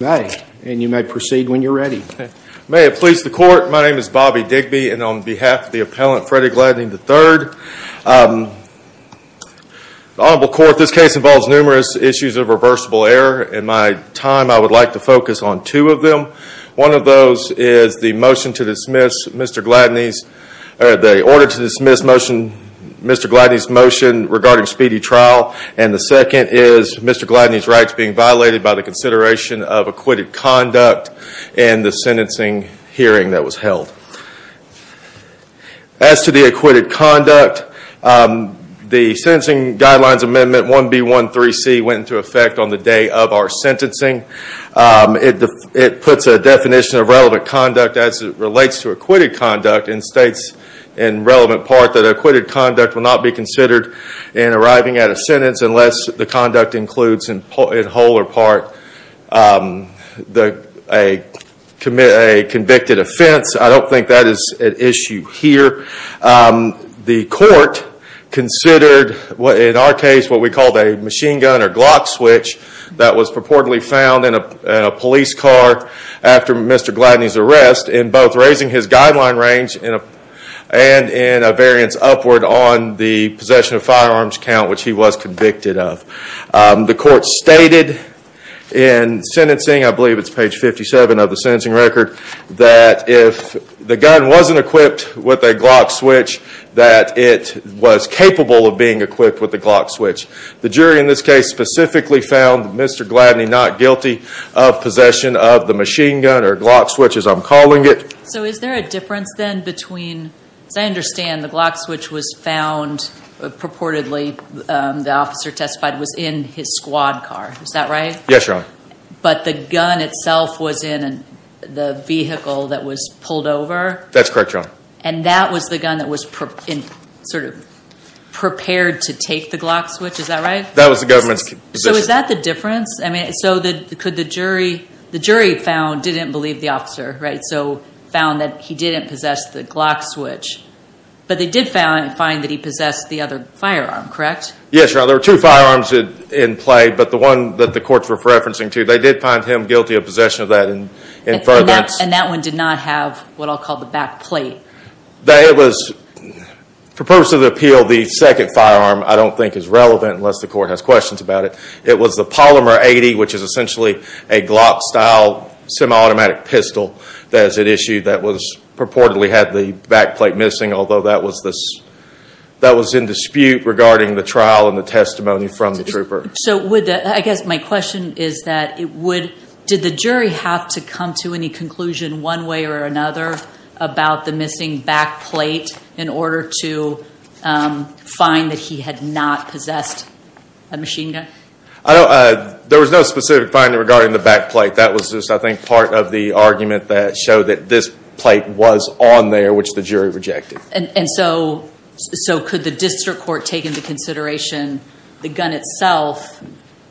May, and you may proceed when you're ready. May it please the court, my name is Bobby Digby and on behalf of the appellant Freddie Gladney, III. The Honorable Court, this case involves numerous issues of reversible error. In my time, I would like to focus on two of them. One of those is the motion to dismiss Mr. Gladney's, the order to dismiss motion, Mr. Gladney's motion regarding speedy trial. And the second is Mr. Gladney's rights being violated by the consideration of acquitted conduct and the sentencing hearing that was held. As to the acquitted conduct, the sentencing guidelines amendment 1B13C went into effect on the day of our sentencing. It puts a definition of relevant conduct as it relates to acquitted conduct and states in relevant part that acquitted conduct will not be considered in arriving at a sentence unless the conduct includes in whole or part a convicted offense. I don't think that is an issue here. The court considered, in our case, what we called a machine gun or Glock switch that was purportedly found in a police car after Mr. Gladney's arrest in both raising his guideline range and in a variance upward on the possession of firearms count which he was convicted of. The court stated in sentencing, I believe it's page 57 of the sentencing record, that if the gun wasn't equipped with a Glock switch that it was capable of being equipped with a Glock switch. The jury in this case specifically found Mr. Gladney not guilty of possession of the machine gun or Glock switch as I'm calling it. So is there a difference then between, as I understand the Glock switch was found purportedly the officer testified was in his squad car, is that right? Yes, Your Honor. But the gun itself was in the vehicle that was pulled over? That's correct, Your Honor. And that was the gun that was sort of prepared to take the Glock switch, is that right? That was the government's position. So is that the difference? I mean, so could the jury, the jury found didn't believe the officer, right, so found that he didn't possess the Glock switch. But they did find that he Yes, Your Honor. There were two firearms in play, but the one that the courts were referencing to, they did find him guilty of possession of that in furtherance. And that one did not have what I'll call the back plate? It was, for purposes of appeal, the second firearm I don't think is relevant unless the court has questions about it. It was the Polymer 80, which is essentially a Glock-style semi-automatic pistol that is at issue that was purportedly had the back plate missing, although that was this, that was in dispute regarding the trial and the testimony from the trooper. So would, I guess my question is that it would, did the jury have to come to any conclusion one way or another about the missing back plate in order to find that he had not possessed a machine gun? I don't, there was no specific finding regarding the back plate. That was just, I think, part of the argument that showed that this plate was on there, which the jury rejected. And so, could the district court take into consideration the gun itself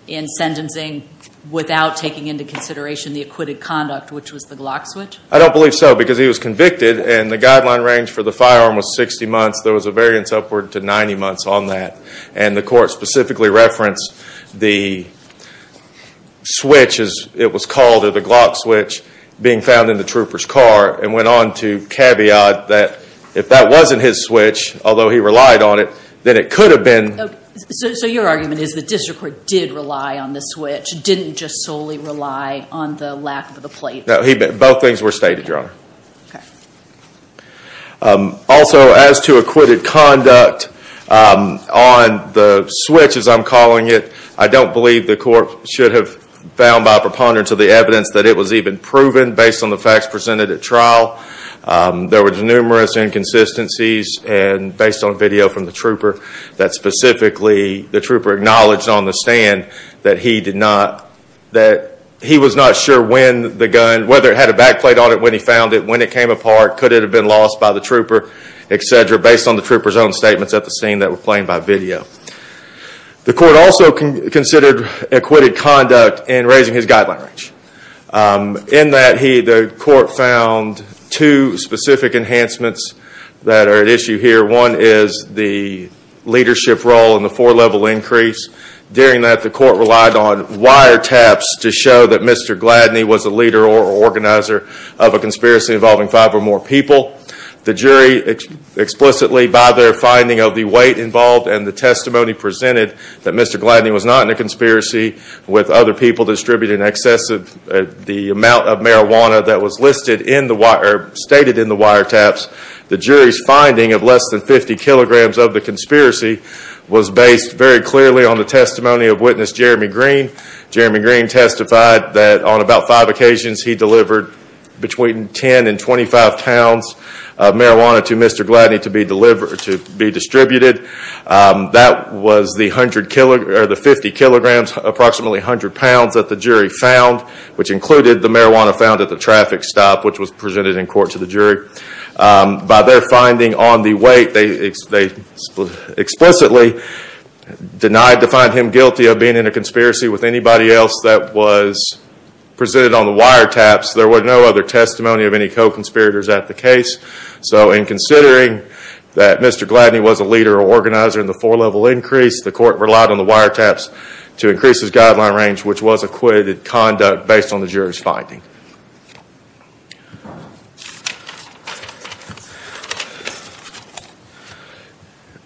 in sentencing without taking into consideration the acquitted conduct, which was the Glock switch? I don't believe so, because he was convicted and the guideline range for the firearm was 60 months. There was a variance upward to 90 months on that. And the court specifically referenced the switch, as it was called, or the Glock switch, being found in the trooper's car, and went on to caveat that if that wasn't his switch, although he relied on it, then it could have been. So your argument is the district court did rely on the switch, didn't just solely rely on the lack of the plate? Both things were stated, Your Honor. Also as to acquitted conduct on the switch, as I'm calling it, I don't believe the court should have found by preponderance of the evidence that it was even proven based on the facts presented at trial. There were numerous inconsistencies based on video from the trooper that specifically the trooper acknowledged on the stand that he was not sure when the gun, whether it had a back plate on it, when he found it, when it came apart, could it have been lost by the trooper, etc., based on the trooper's own statements at the scene that were claimed by video. The court also considered acquitted conduct in raising his guideline range. In that, the court found two specific enhancements that are at issue here. One is the leadership role in the four-level increase. During that, the court relied on wiretaps to show that Mr. Gladney was a leader or organizer of a conspiracy involving five or more people. The jury, explicitly by their finding of the weight involved and the testimony presented that Mr. Gladney was not in a conspiracy with other people distributing excessive, the amount of marijuana that was listed in the wire, stated in the wiretaps, the jury's finding of less than 50 kilograms of the conspiracy was based very clearly on the testimony of Witness Jeremy Green. Jeremy Green testified that on about five occasions, he delivered between 10 and 25 pounds of marijuana to Mr. Gladney to be distributed. That was the 50 kilograms, approximately 100 pounds that the jury found, which included the marijuana found at the traffic stop, which was presented in court to the jury. By their finding on the weight, they explicitly denied to find him guilty of being in a conspiracy with anybody else that was presented on the wiretaps. There were no other testimony of any co-conspirators at the case. So in considering that Mr. Gladney was a leader or organizer in the four-level increase, the court relied on the wiretaps to increase his guideline range, which was acquitted conduct based on the jury's finding.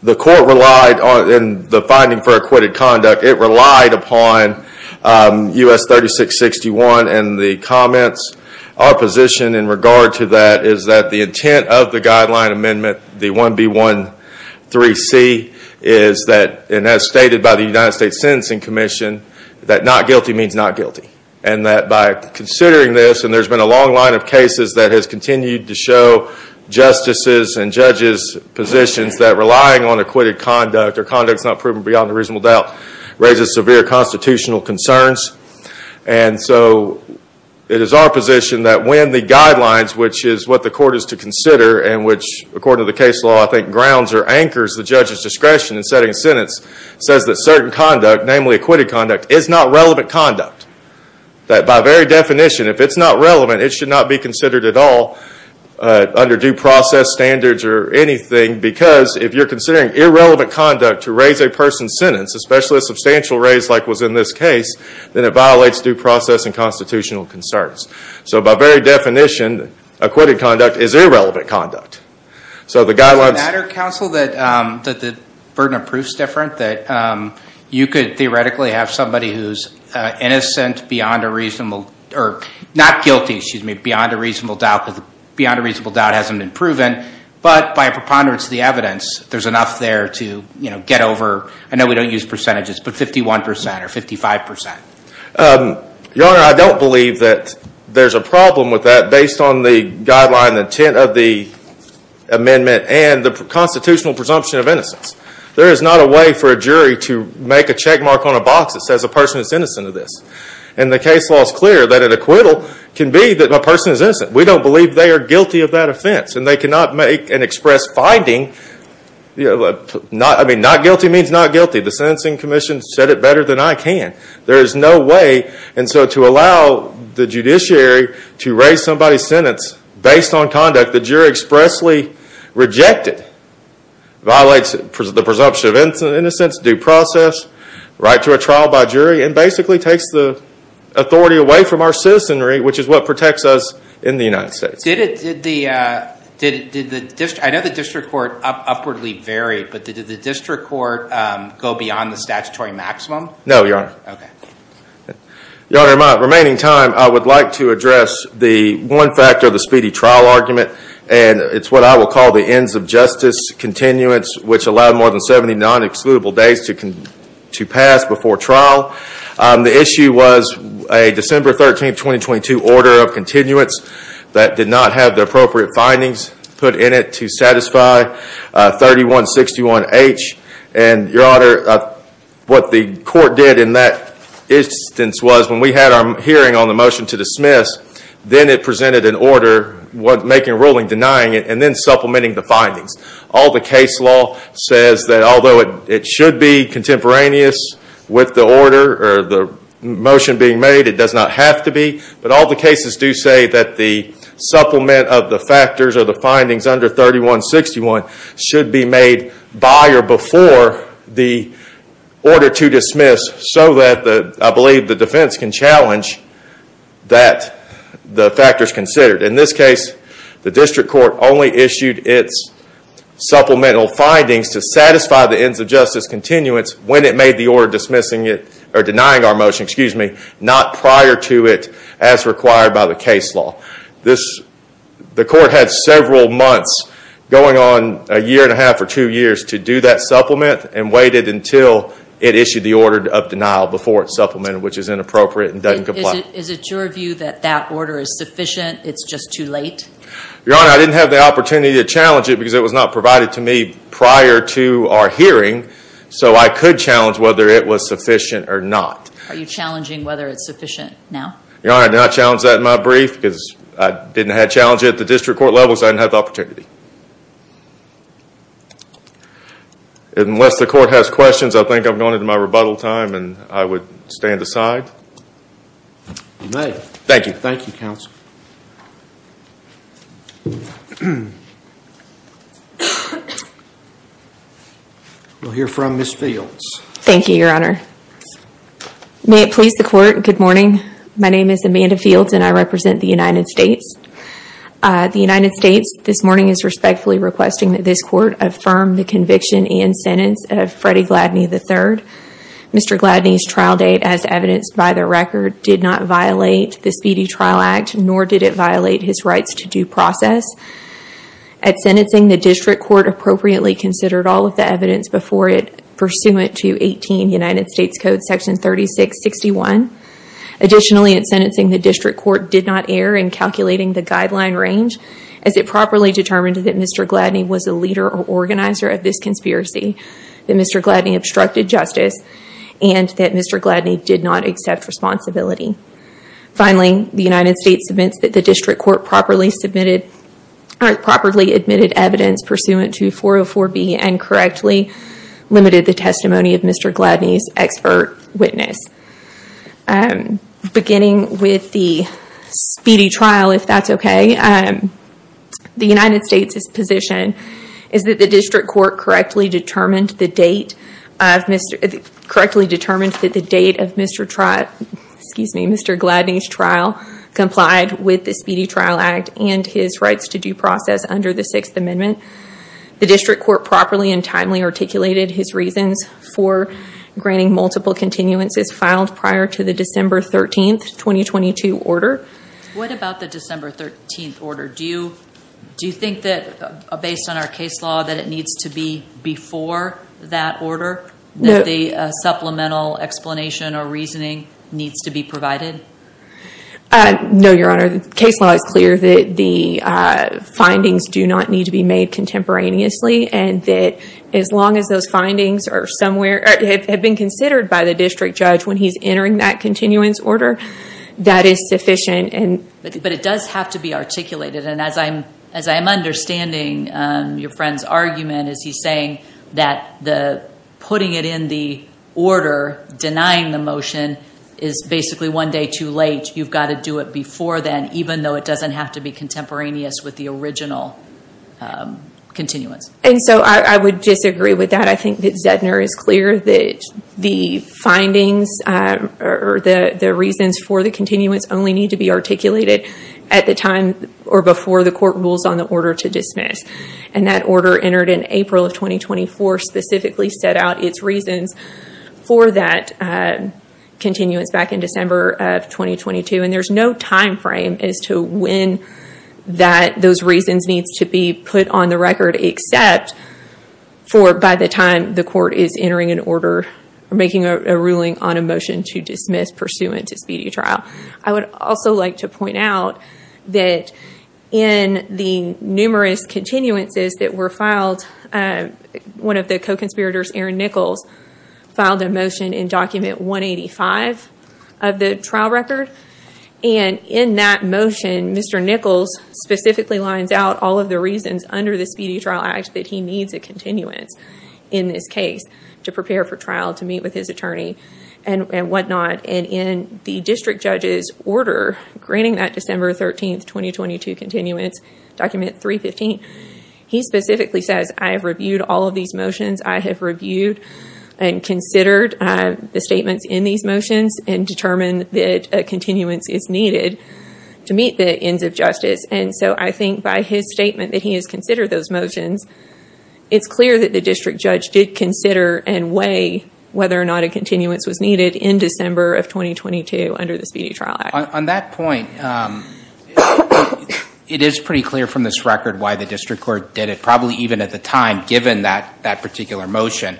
The court relied on the finding for acquitted conduct. It relied upon US 3661 and the comments of the jury. Our position in regard to that is that the intent of the guideline amendment, the 1B13C, is that, and as stated by the United States Sentencing Commission, that not guilty means not guilty. And that by considering this, and there's been a long line of cases that has continued to show justices' and judges' positions that relying on acquitted conduct or conducts not proven beyond a reasonable doubt raises severe constitutional concerns. And so it is our position that when the guidelines, which is what the court is to consider and which according to the case law I think grounds or anchors the judge's discretion in setting a sentence, says that certain conduct, namely acquitted conduct, is not relevant conduct. That by very definition, if it's not relevant, it should not be considered at all under due process standards or anything because if you're considering irrelevant conduct to raise a person's sentence, especially a substantial raise like was in this case, then it violates due process and constitutional concerns. So by very definition, acquitted conduct is irrelevant conduct. So the guidelines... Is it a matter, counsel, that the burden of proof is different? That you could theoretically have somebody who's innocent beyond a reasonable, or not guilty, excuse me, beyond a reasonable doubt because beyond a reasonable doubt hasn't been proven, but by preponderance of the evidence there's enough there to get over, I know we don't use percentages, but 51% or 55%. Your Honor, I don't believe that there's a problem with that based on the guideline intent of the amendment and the constitutional presumption of innocence. There is not a way for a jury to make a checkmark on a box that says a person is innocent of this. And the case law is clear that an acquittal can be that a person is innocent. We don't believe they are guilty of that offense. And they cannot make an express finding. Not guilty means not guilty. The sentencing commission said it better than I can. There is no way. And so to allow the judiciary to raise somebody's sentence based on conduct the jury expressly rejected, violates the presumption of innocence, due process, right to a trial by jury, and basically takes the authority away from our citizenry, which is what protects us in the United States. Did the, I know the district court upwardly varied, but did the district court go beyond the statutory maximum? Okay. Your Honor, in my remaining time, I would like to address the one factor of the speedy trial argument. And it's what I will call the ends of justice continuance, which allowed more than 70 non-excludable days to pass before trial. The issue was a December 13, 2022 order of continuance that did not have the appropriate findings put in it to satisfy 3161H. And Your Honor, what the court did in that instance was when we had our hearing on the motion to dismiss, then it presented an order, making a ruling denying it, and then supplementing the findings. All the case law says that although it should be contemporaneous with the order or the motion being made, it does not have to be. But all the cases do say that the supplement of the factors or the findings under 3161 should be made by or before the order to dismiss so that I believe the defense can challenge that the factors considered. In this case, the district court only issued its supplemental findings to satisfy the ends of justice continuance when it made the order denying our motion, not prior to it as required by the case law. The court had several months going on, a year and a half or two years, to do that supplement and waited until it issued the order of denial before it supplemented, which is inappropriate and doesn't comply. Is it your view that that order is sufficient? It's just too late? Your Honor, I didn't have the opportunity to challenge it because it was not provided to me prior to our hearing, so I could challenge whether it was sufficient or not. Are you challenging whether it's sufficient now? Your Honor, I did not challenge that in my brief because I didn't have a challenge at the district court level, so I didn't have the opportunity. Unless the court has questions, I think I'm going into my rebuttal time and I would stand aside. You may. Thank you. Thank you, Counsel. We'll hear from Ms. Fields. Thank you, Your Honor. May it please the court, good morning. My name is Amanda Fields and I represent the United States. The United States this morning is respectfully requesting that this court affirm the conviction and sentence of Freddie Gladney III. Mr. Gladney's trial date, as evidenced by the record, did not violate the Speedy Trial Act, nor did it violate his rights to due process. At sentencing, the district court appropriately considered all of the evidence before it pursuant to 18 United States Code Section 3661. Additionally, at sentencing, the district court did not err in calculating the guideline range as it properly determined that Mr. Gladney was a leader or organizer of this conspiracy, that Mr. Gladney obstructed justice, and that Mr. Gladney did not accept responsibility. Finally, the United States admits that the district court properly submitted, or properly admitted evidence pursuant to 404B and correctly limited the testimony of Mr. Gladney's expert witness. Beginning with the speedy trial, if that's okay, the United States' position is that the district court correctly determined that the date of Mr. Gladney's trial complied with the Speedy Trial Act and his rights to due process under the Sixth Amendment. The district court properly and timely articulated his reasons for granting multiple continuances filed prior to the December 13th, 2022 order. What about the December 13th order? Do you think that based on our case law that it needs to be before that order, that the supplemental explanation or reasoning needs to be provided? No, Your Honor. The case law is clear that the findings do not need to be made contemporaneously, and that as long as those findings have been considered by the district judge when he's entering that continuance order, that is sufficient. But it does have to be articulated. As I'm understanding your friend's argument, is he's saying that putting it in the order, denying the motion, is basically one day too late. You've got to do it before then, even though it doesn't have to be contemporaneous with the original continuance. I would disagree with that. I think that Zedner is clear that the findings or the reasons for the continuance only need to be articulated at the time or before the court rules on the order to dismiss. That order entered in April of 2024 specifically set out its reasons for that continuance back in December of 2022. There's no timeframe as to when those reasons needs to be put on the record, except for by the time the court is entering an order or making a ruling on a motion to dismiss pursuant to speedy trial. I would also like to point out that in the numerous continuances that were filed, one of the co-conspirators, Aaron Nichols, filed a motion in document 185 of the trial record. In that motion, Mr. Nichols specifically lines out all of the reasons under the Speedy Trial Act that he needs a continuance in this case to prepare for trial, to meet with his attorney and whatnot. In the district judge's order, granting that December 13, 2022 continuance, document 315, he specifically says, I have reviewed all of these motions. I have reviewed and considered the statements in these motions and determined that a continuance is needed to meet the ends of justice. I think by his statement that he has considered those motions, it's clear that the district judge did consider and weigh whether or not a continuance was needed in December of 2022 under the Speedy Trial Act. On that point, it is pretty clear from this record why the district court did it, probably even at the time given that particular motion.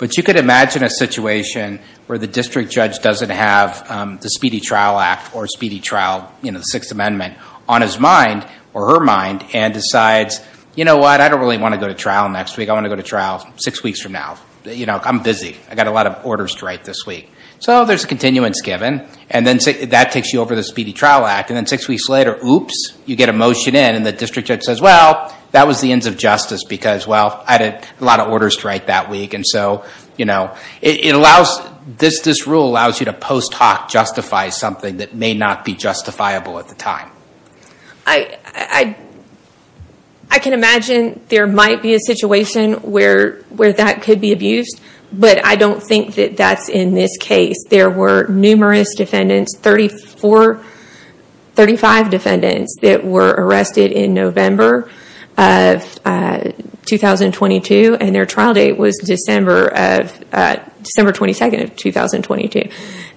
You could imagine a situation where the district judge doesn't have the Speedy Trial Act or Speedy Trial, the Sixth Amendment, on his mind or her mind and decides, you know what, I don't really want to go to trial next week. I want to go to trial six weeks from now. I'm busy. I've got a lot of orders to write this week. So there's a continuance given. And then that takes you over to the Speedy Trial Act. And then six weeks later, oops, you get a motion in and the district judge says, well, that was the ends of justice because, well, I had a lot of orders to write that week. And so this rule allows you to post hoc justify something that may not be justifiable at the time. I can imagine there might be a situation where that could be abused, but I don't think that that's in this case. There were numerous defendants, thirty four, thirty five defendants that were arrested in November of 2022. And their trial date was December of December 22nd of 2022.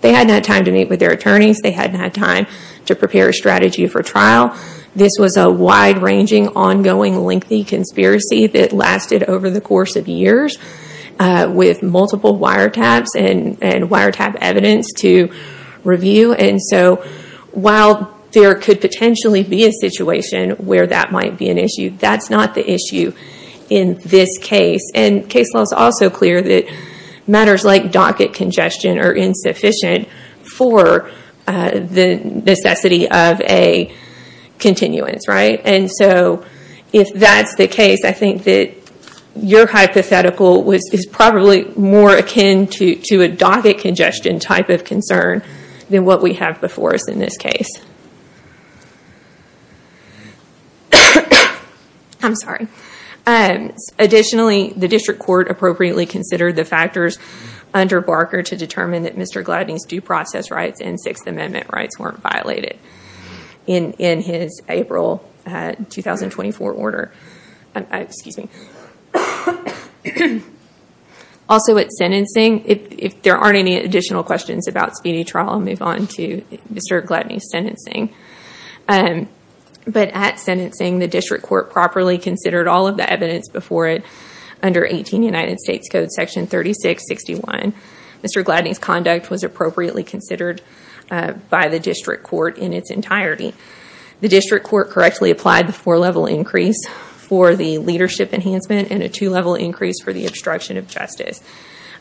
They had not time to meet with their attorneys. They hadn't had time to prepare a strategy for trial. This was a wide ranging, ongoing, lengthy conspiracy that lasted over the course of years with multiple wiretaps and wiretap evidence to review. And so while there could potentially be a situation where that might be an issue, that's not the issue in this case. And case law is also clear that matters like docket congestion are insufficient for the necessity of a continuance, right? And so if that's the case, I think that your hypothetical is probably more akin to a docket congestion type of concern than what we have before us in this case. I'm sorry. Additionally, the district court appropriately considered the factors under Barker to determine that Mr. Gladney's due process rights and Sixth Amendment rights weren't violated in his April 2024 order. Excuse me. Also at sentencing, if there aren't any additional questions about speedy trial, I'll move on to Mr. Gladney's sentencing. But at sentencing, the district court properly considered all of the evidence before it under 18 United States Code Section 3661. Mr. Gladney's conduct was appropriately considered by the district court in its entirety. The district court correctly applied the four-level increase for the leadership enhancement and a two-level increase for the obstruction of justice.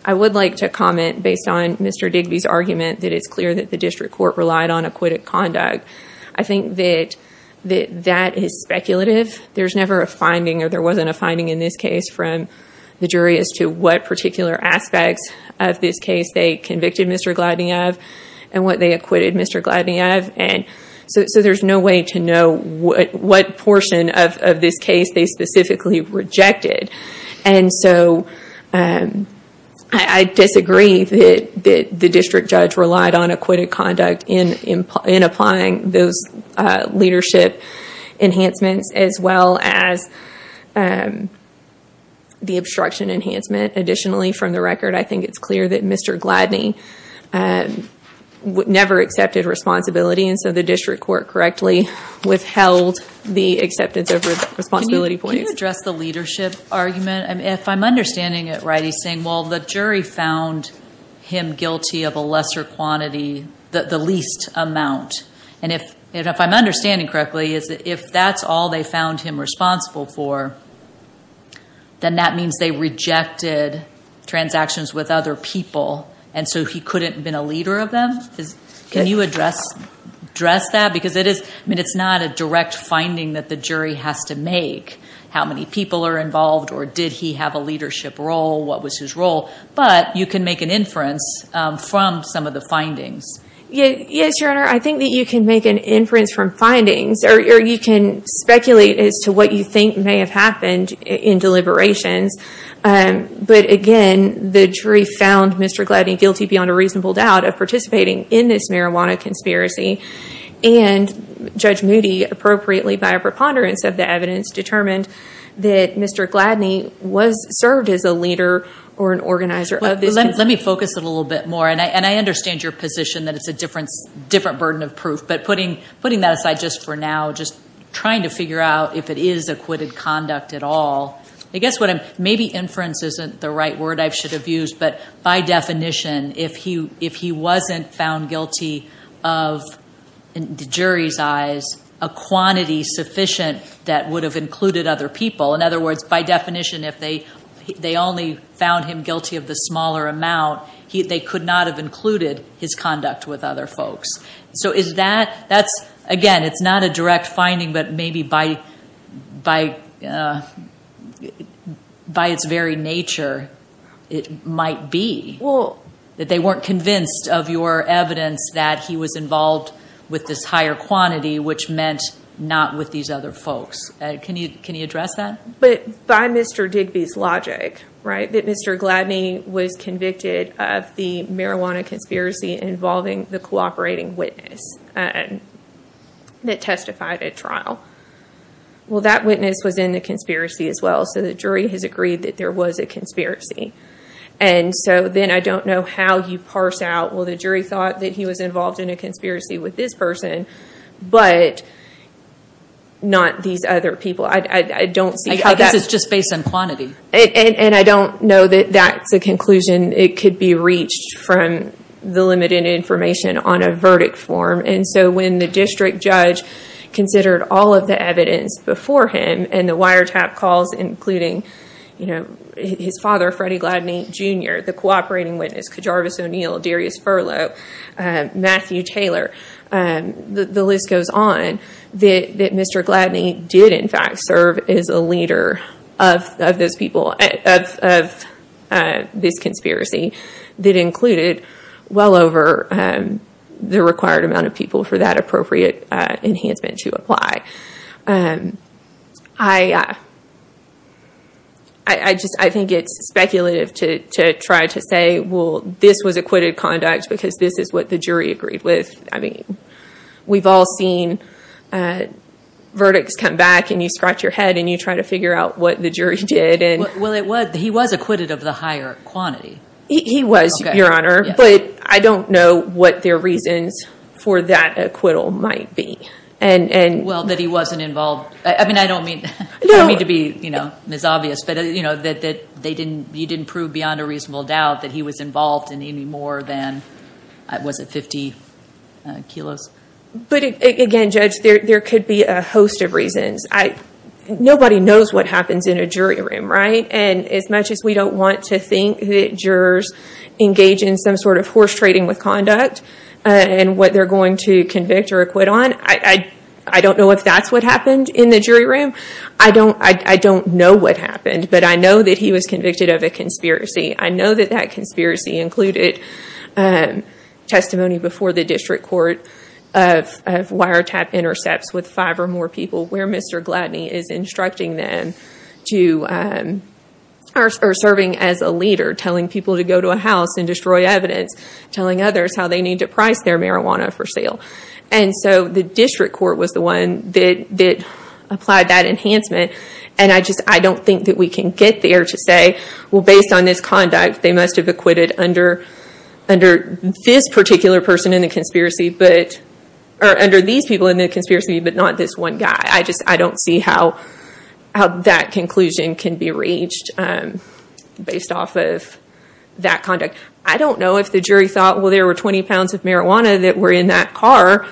I would like to comment based on Mr. Digby's argument that it's clear that the district court relied on acquitted conduct. I think that that is speculative. There's never a finding or there wasn't a finding in this case from the jury as to what particular aspects of this case they convicted Mr. Gladney of and what they acquitted Mr. Gladney of. And so there's no way to know what portion of this case they specifically rejected. And so I disagree that the district judge relied on acquitted conduct in applying those leadership enhancements as well as the obstruction enhancement. Additionally, from the record, I think it's clear that Mr. Gladney never accepted responsibility and so the district court correctly withheld the acceptance of responsibility points. Can you address the leadership argument? If I'm understanding it right, he's saying, well, the jury found him guilty of a lesser quantity, the least amount. And if I'm understanding correctly, if that's all they found him responsible for, then that means they rejected transactions with other people and so he couldn't have been a leader of them? Can you address that? Because it is, I mean, it's not a direct finding that the jury has to make, how many people are involved or did he have a leadership role, what was his role? But you can make an inference from some of the findings. Yes, Your Honor, I think that you can make an inference from findings or you can speculate as to what you think may have happened in deliberations. But again, the jury found Mr. Gladney guilty beyond a reasonable doubt of participating in this marijuana conspiracy and Judge Moody, appropriately by a preponderance of the evidence, determined that Mr. Gladney served as a leader or an organizer of this conspiracy. Let me focus it a little bit more, and I understand your position that it's a different burden of proof, but putting that aside just for now, just trying to figure out if it is acquitted conduct at all. I guess what I'm, maybe inference isn't the right word I should have used, but by definition, if he wasn't found guilty of, in the jury's eyes, a quantity sufficient that would have included other people. In other words, by definition, if they only found him guilty of the smaller amount, they could not have included his conduct with other folks. So is that, that's, again, it's not a direct finding, but maybe by its very nature, it might be. That they weren't convinced of your evidence that he was involved with this higher quantity, which meant not with these other folks. Can you address that? But by Mr. Digby's logic, right, that Mr. Gladney was convicted of the marijuana conspiracy involving the cooperating witness that testified at trial. Well, that witness was in the conspiracy as well, so the jury has agreed that there was a conspiracy. And so then I don't know how you parse out, well, the jury thought that he was involved in a conspiracy with this person, but not these other people. I don't see how that- I guess it's just based on quantity. And I don't know that that's a conclusion it could be reached from the limited information on a verdict form. And so when the district judge considered all of the evidence before him, and the wiretap calls including his father, Freddie Gladney, Jr., the cooperating witness, Kajarvis O'Neill, Darius Furlow, Matthew Taylor, the list goes on, that Mr. Gladney did, in fact, serve as a leader of this conspiracy that included well over the required amount of people for that appropriate enhancement to apply. I just, I think it's speculative to try to say, well, this was acquitted conduct because this is what the jury agreed with. I mean, we've all seen verdicts come back and you scratch your head and you try to figure out what the jury did. Well, he was acquitted of the higher quantity. He was, Your Honor, but I don't know what their reasons for that acquittal might be. And- Well, that he wasn't involved. I mean, I don't mean to be misobvious, but that you didn't prove beyond a reasonable doubt that he was involved in any more than, was it 50 kilos? But again, Judge, there could be a host of reasons. Nobody knows what happens in a jury room, right? And as much as we don't want to think that jurors engage in some sort of horse trading with conduct, and what they're going to convict or acquit on, I don't know if that's what happened in the jury room. I don't know what happened, but I know that he was convicted of a conspiracy. I know that that conspiracy included testimony before the district court of wiretap intercepts with five or more people, where Mr. Gladney is instructing them to, or serving as a leader, telling people to go to a house and destroy evidence, telling others how they need to price their marijuana for sale. And so the district court was the one that applied that enhancement. And I just, I don't think that we can get there to say, well, based on this conduct, they must have acquitted under this particular person in the conspiracy, or under these people in the conspiracy, but not this one guy. I just, I don't see how that conclusion can be reached based off of that conduct. I don't know if the jury thought, well, there were 20 pounds of marijuana that were in that car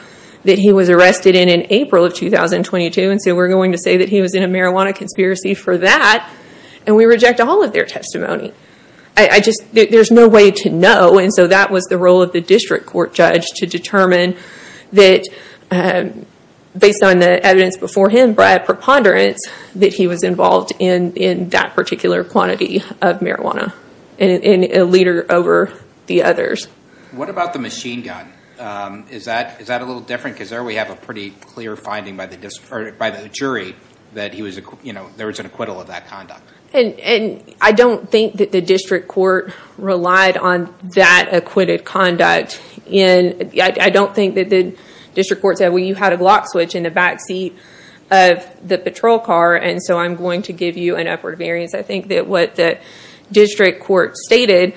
that he was arrested in in April of 2022. And so we're going to say that he was in a marijuana conspiracy for that, and we reject all of their testimony. I just, there's no way to know. And so that was the role of the district court judge to determine that, based on the evidence before him, Brad preponderance, that he was involved in that particular quantity of marijuana, and a leader over the others. What about the machine gun? Is that a little different? Because there we have a pretty clear finding by the jury that he was, you know, there was an acquittal of that conduct. And I don't think that the district court relied on that acquitted conduct. And I don't think that the district court said, well, you had a lock switch in the back seat of the patrol car. And so I'm going to give you an upward variance. I think that what the district court stated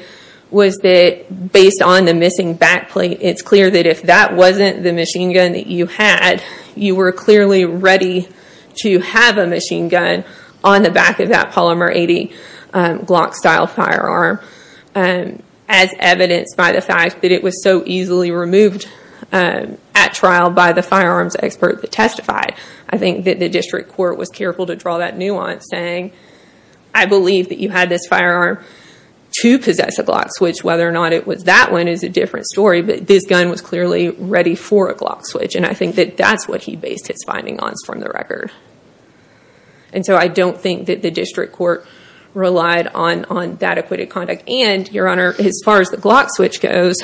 was that based on the missing back plate, it's clear that if that wasn't the machine gun that you had, you were clearly ready to have a machine gun on the back of that polymer 80 Glock style firearm. And as evidenced by the fact that it was so easily removed at trial by the firearms expert that testified. I think that the district court was careful to draw that nuance saying, I believe that you had this firearm to possess a Glock switch. Whether or not it was that one is a different story. But this gun was clearly ready for a Glock switch. And I think that that's what he based his finding on from the record. And so I don't think that the district court relied on that acquitted conduct. And your honor, as far as the Glock switch goes,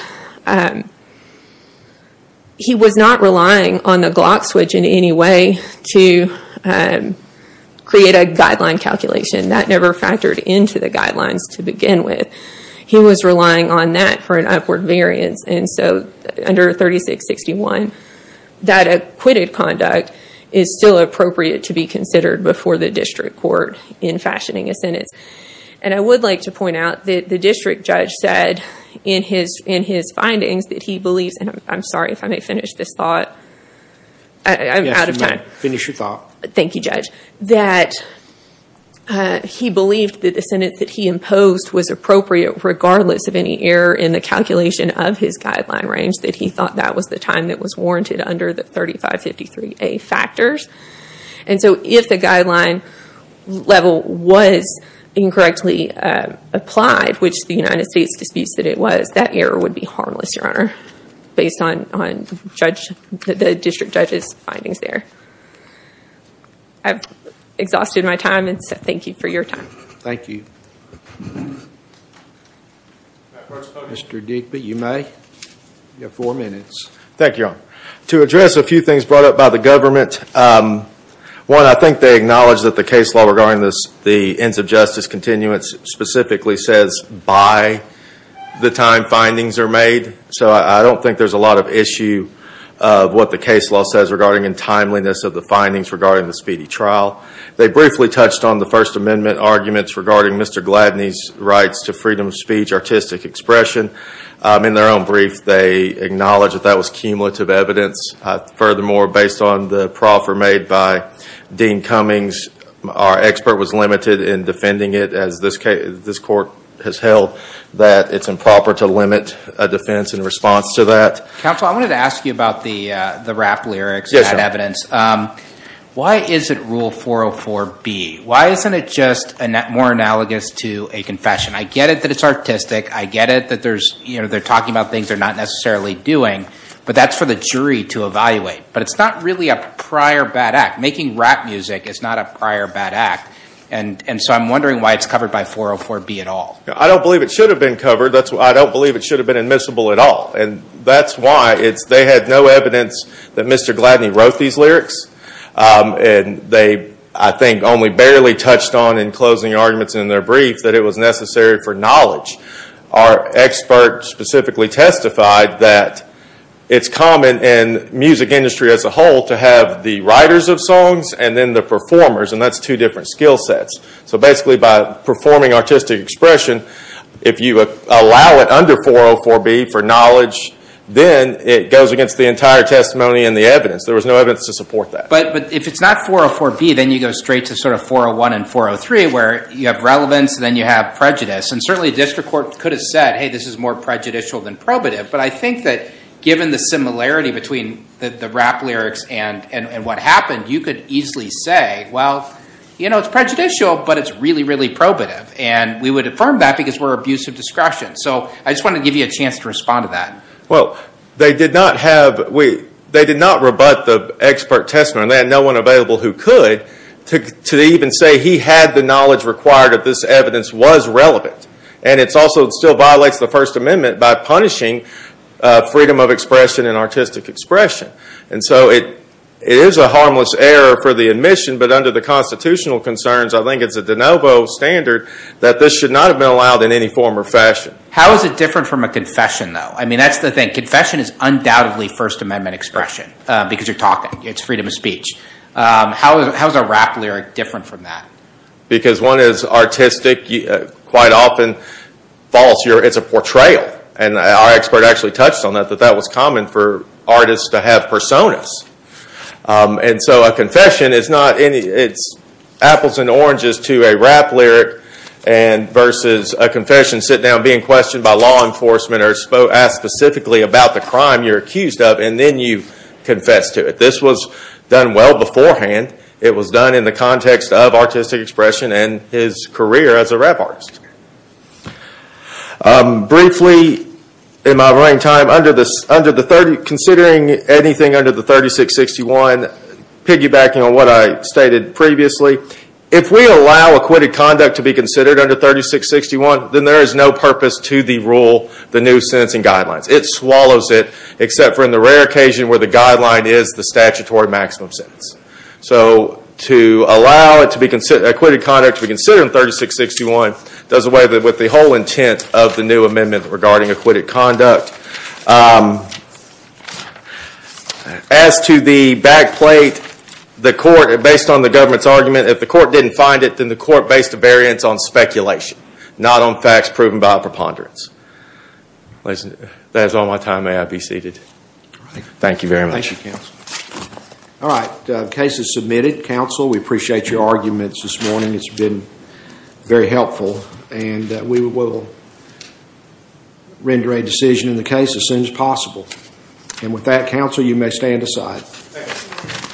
he was not relying on the Glock switch in any way to create a guideline calculation. That never factored into the guidelines to begin with. He was relying on that for an upward variance. Under 36-61, that acquitted conduct is still appropriate to be considered before the district court in fashioning a sentence. And I would like to point out that the district judge said in his findings that he believes, and I'm sorry if I may finish this thought. I'm out of time. Finish your thought. Thank you, judge. That he believed that the sentence that he imposed was appropriate, regardless of any error in the calculation of his guideline range. That he thought that was the time that was warranted under the 35-53A factors. And so if the guideline level was incorrectly applied, which the United States disputes that it was, that error would be harmless, your honor. Based on the district judge's findings there. I've exhausted my time and thank you for your time. Thank you. Mr. Deepe, you may. You have four minutes. Thank you, your honor. To address a few things brought up by the government. One, I think they acknowledge that the case law regarding the ends of justice continuance specifically says by the time findings are made. So I don't think there's a lot of issue of what the case law says regarding in timeliness of the findings regarding the speedy trial. They briefly touched on the First Amendment arguments regarding Mr. Gladney's rights to freedom of speech, artistic expression. In their own brief, they acknowledge that that was cumulative evidence. Furthermore, based on the proffer made by Dean Cummings, our expert was limited in defending it as this court has held that it's improper to limit a defense in response to that. Counsel, I wanted to ask you about the rap lyrics and that evidence. Why is it rule 404B? Why isn't it just more analogous to a confession? I get it that it's artistic. I get it that they're talking about things they're not necessarily doing. But that's for the jury to evaluate. But it's not really a prior bad act. Making rap music is not a prior bad act. And so I'm wondering why it's covered by 404B at all. I don't believe it should have been covered. I don't believe it should have been admissible at all. And that's why they had no evidence that Mr. Gladney wrote these lyrics. And they, I think, only barely touched on in closing arguments in their brief that it was necessary for knowledge. Our expert specifically testified that it's common in music industry as a whole to have the writers of songs and then the performers. And that's two different skill sets. So basically by performing artistic expression, if you allow it under 404B for knowledge, then it goes against the entire testimony and the evidence. There was no evidence to support that. But if it's not 404B, then you go straight to sort of 401 and 403, where you have relevance and then you have prejudice. And certainly a district court could have said, hey, this is more prejudicial than probative. But I think that given the similarity between the rap lyrics and what happened, you could easily say, well, you know, it's prejudicial, but it's really, really probative. And we would affirm that because we're abuse of discretion. So I just want to give you a chance to respond to that. Well, they did not have, they did not rebut the expert testimony. And they had no one available who could to even say he had the knowledge required that this evidence was relevant. And it's also still violates the First Amendment by punishing freedom of expression and artistic expression. And so it is a harmless error for the admission. But under the constitutional concerns, I think it's a de novo standard that this should not have been allowed in any form or fashion. How is it different from a confession, though? I mean, that's the thing. Confession is undoubtedly First Amendment expression because you're talking. It's freedom of speech. How is a rap lyric different from that? Because one is artistic, quite often false. It's a portrayal. And our expert actually touched on that, that that was common for artists to have personas. And so a confession is not any, it's apples and oranges to a rap lyric versus a confession sit down being questioned by law enforcement or asked specifically about the crime you're accused of and then you confess to it. This was done well beforehand. It was done in the context of artistic expression and his career as a rap artist. Briefly, in my remaining time, considering anything under the 3661, piggybacking on what I stated previously, if we allow acquitted conduct to be considered under 3661, then there is no purpose to the rule, the new sentencing guidelines. It swallows it, except for in the rare occasion where the guideline is the statutory maximum sentence. So to allow acquitted conduct to be considered in 3661 does away with the whole intent of the new amendment regarding acquitted conduct. As to the back plate, the court, based on the government's argument, if the court didn't find it, then the court based a variance on speculation, not on facts proven by a preponderance. That is all my time. May I be seated? Thank you very much. All right. Case is submitted. Counsel, we appreciate your arguments this morning. It's been very helpful. And we will render a decision in the case as soon as possible. And with that, counsel, you may stand aside.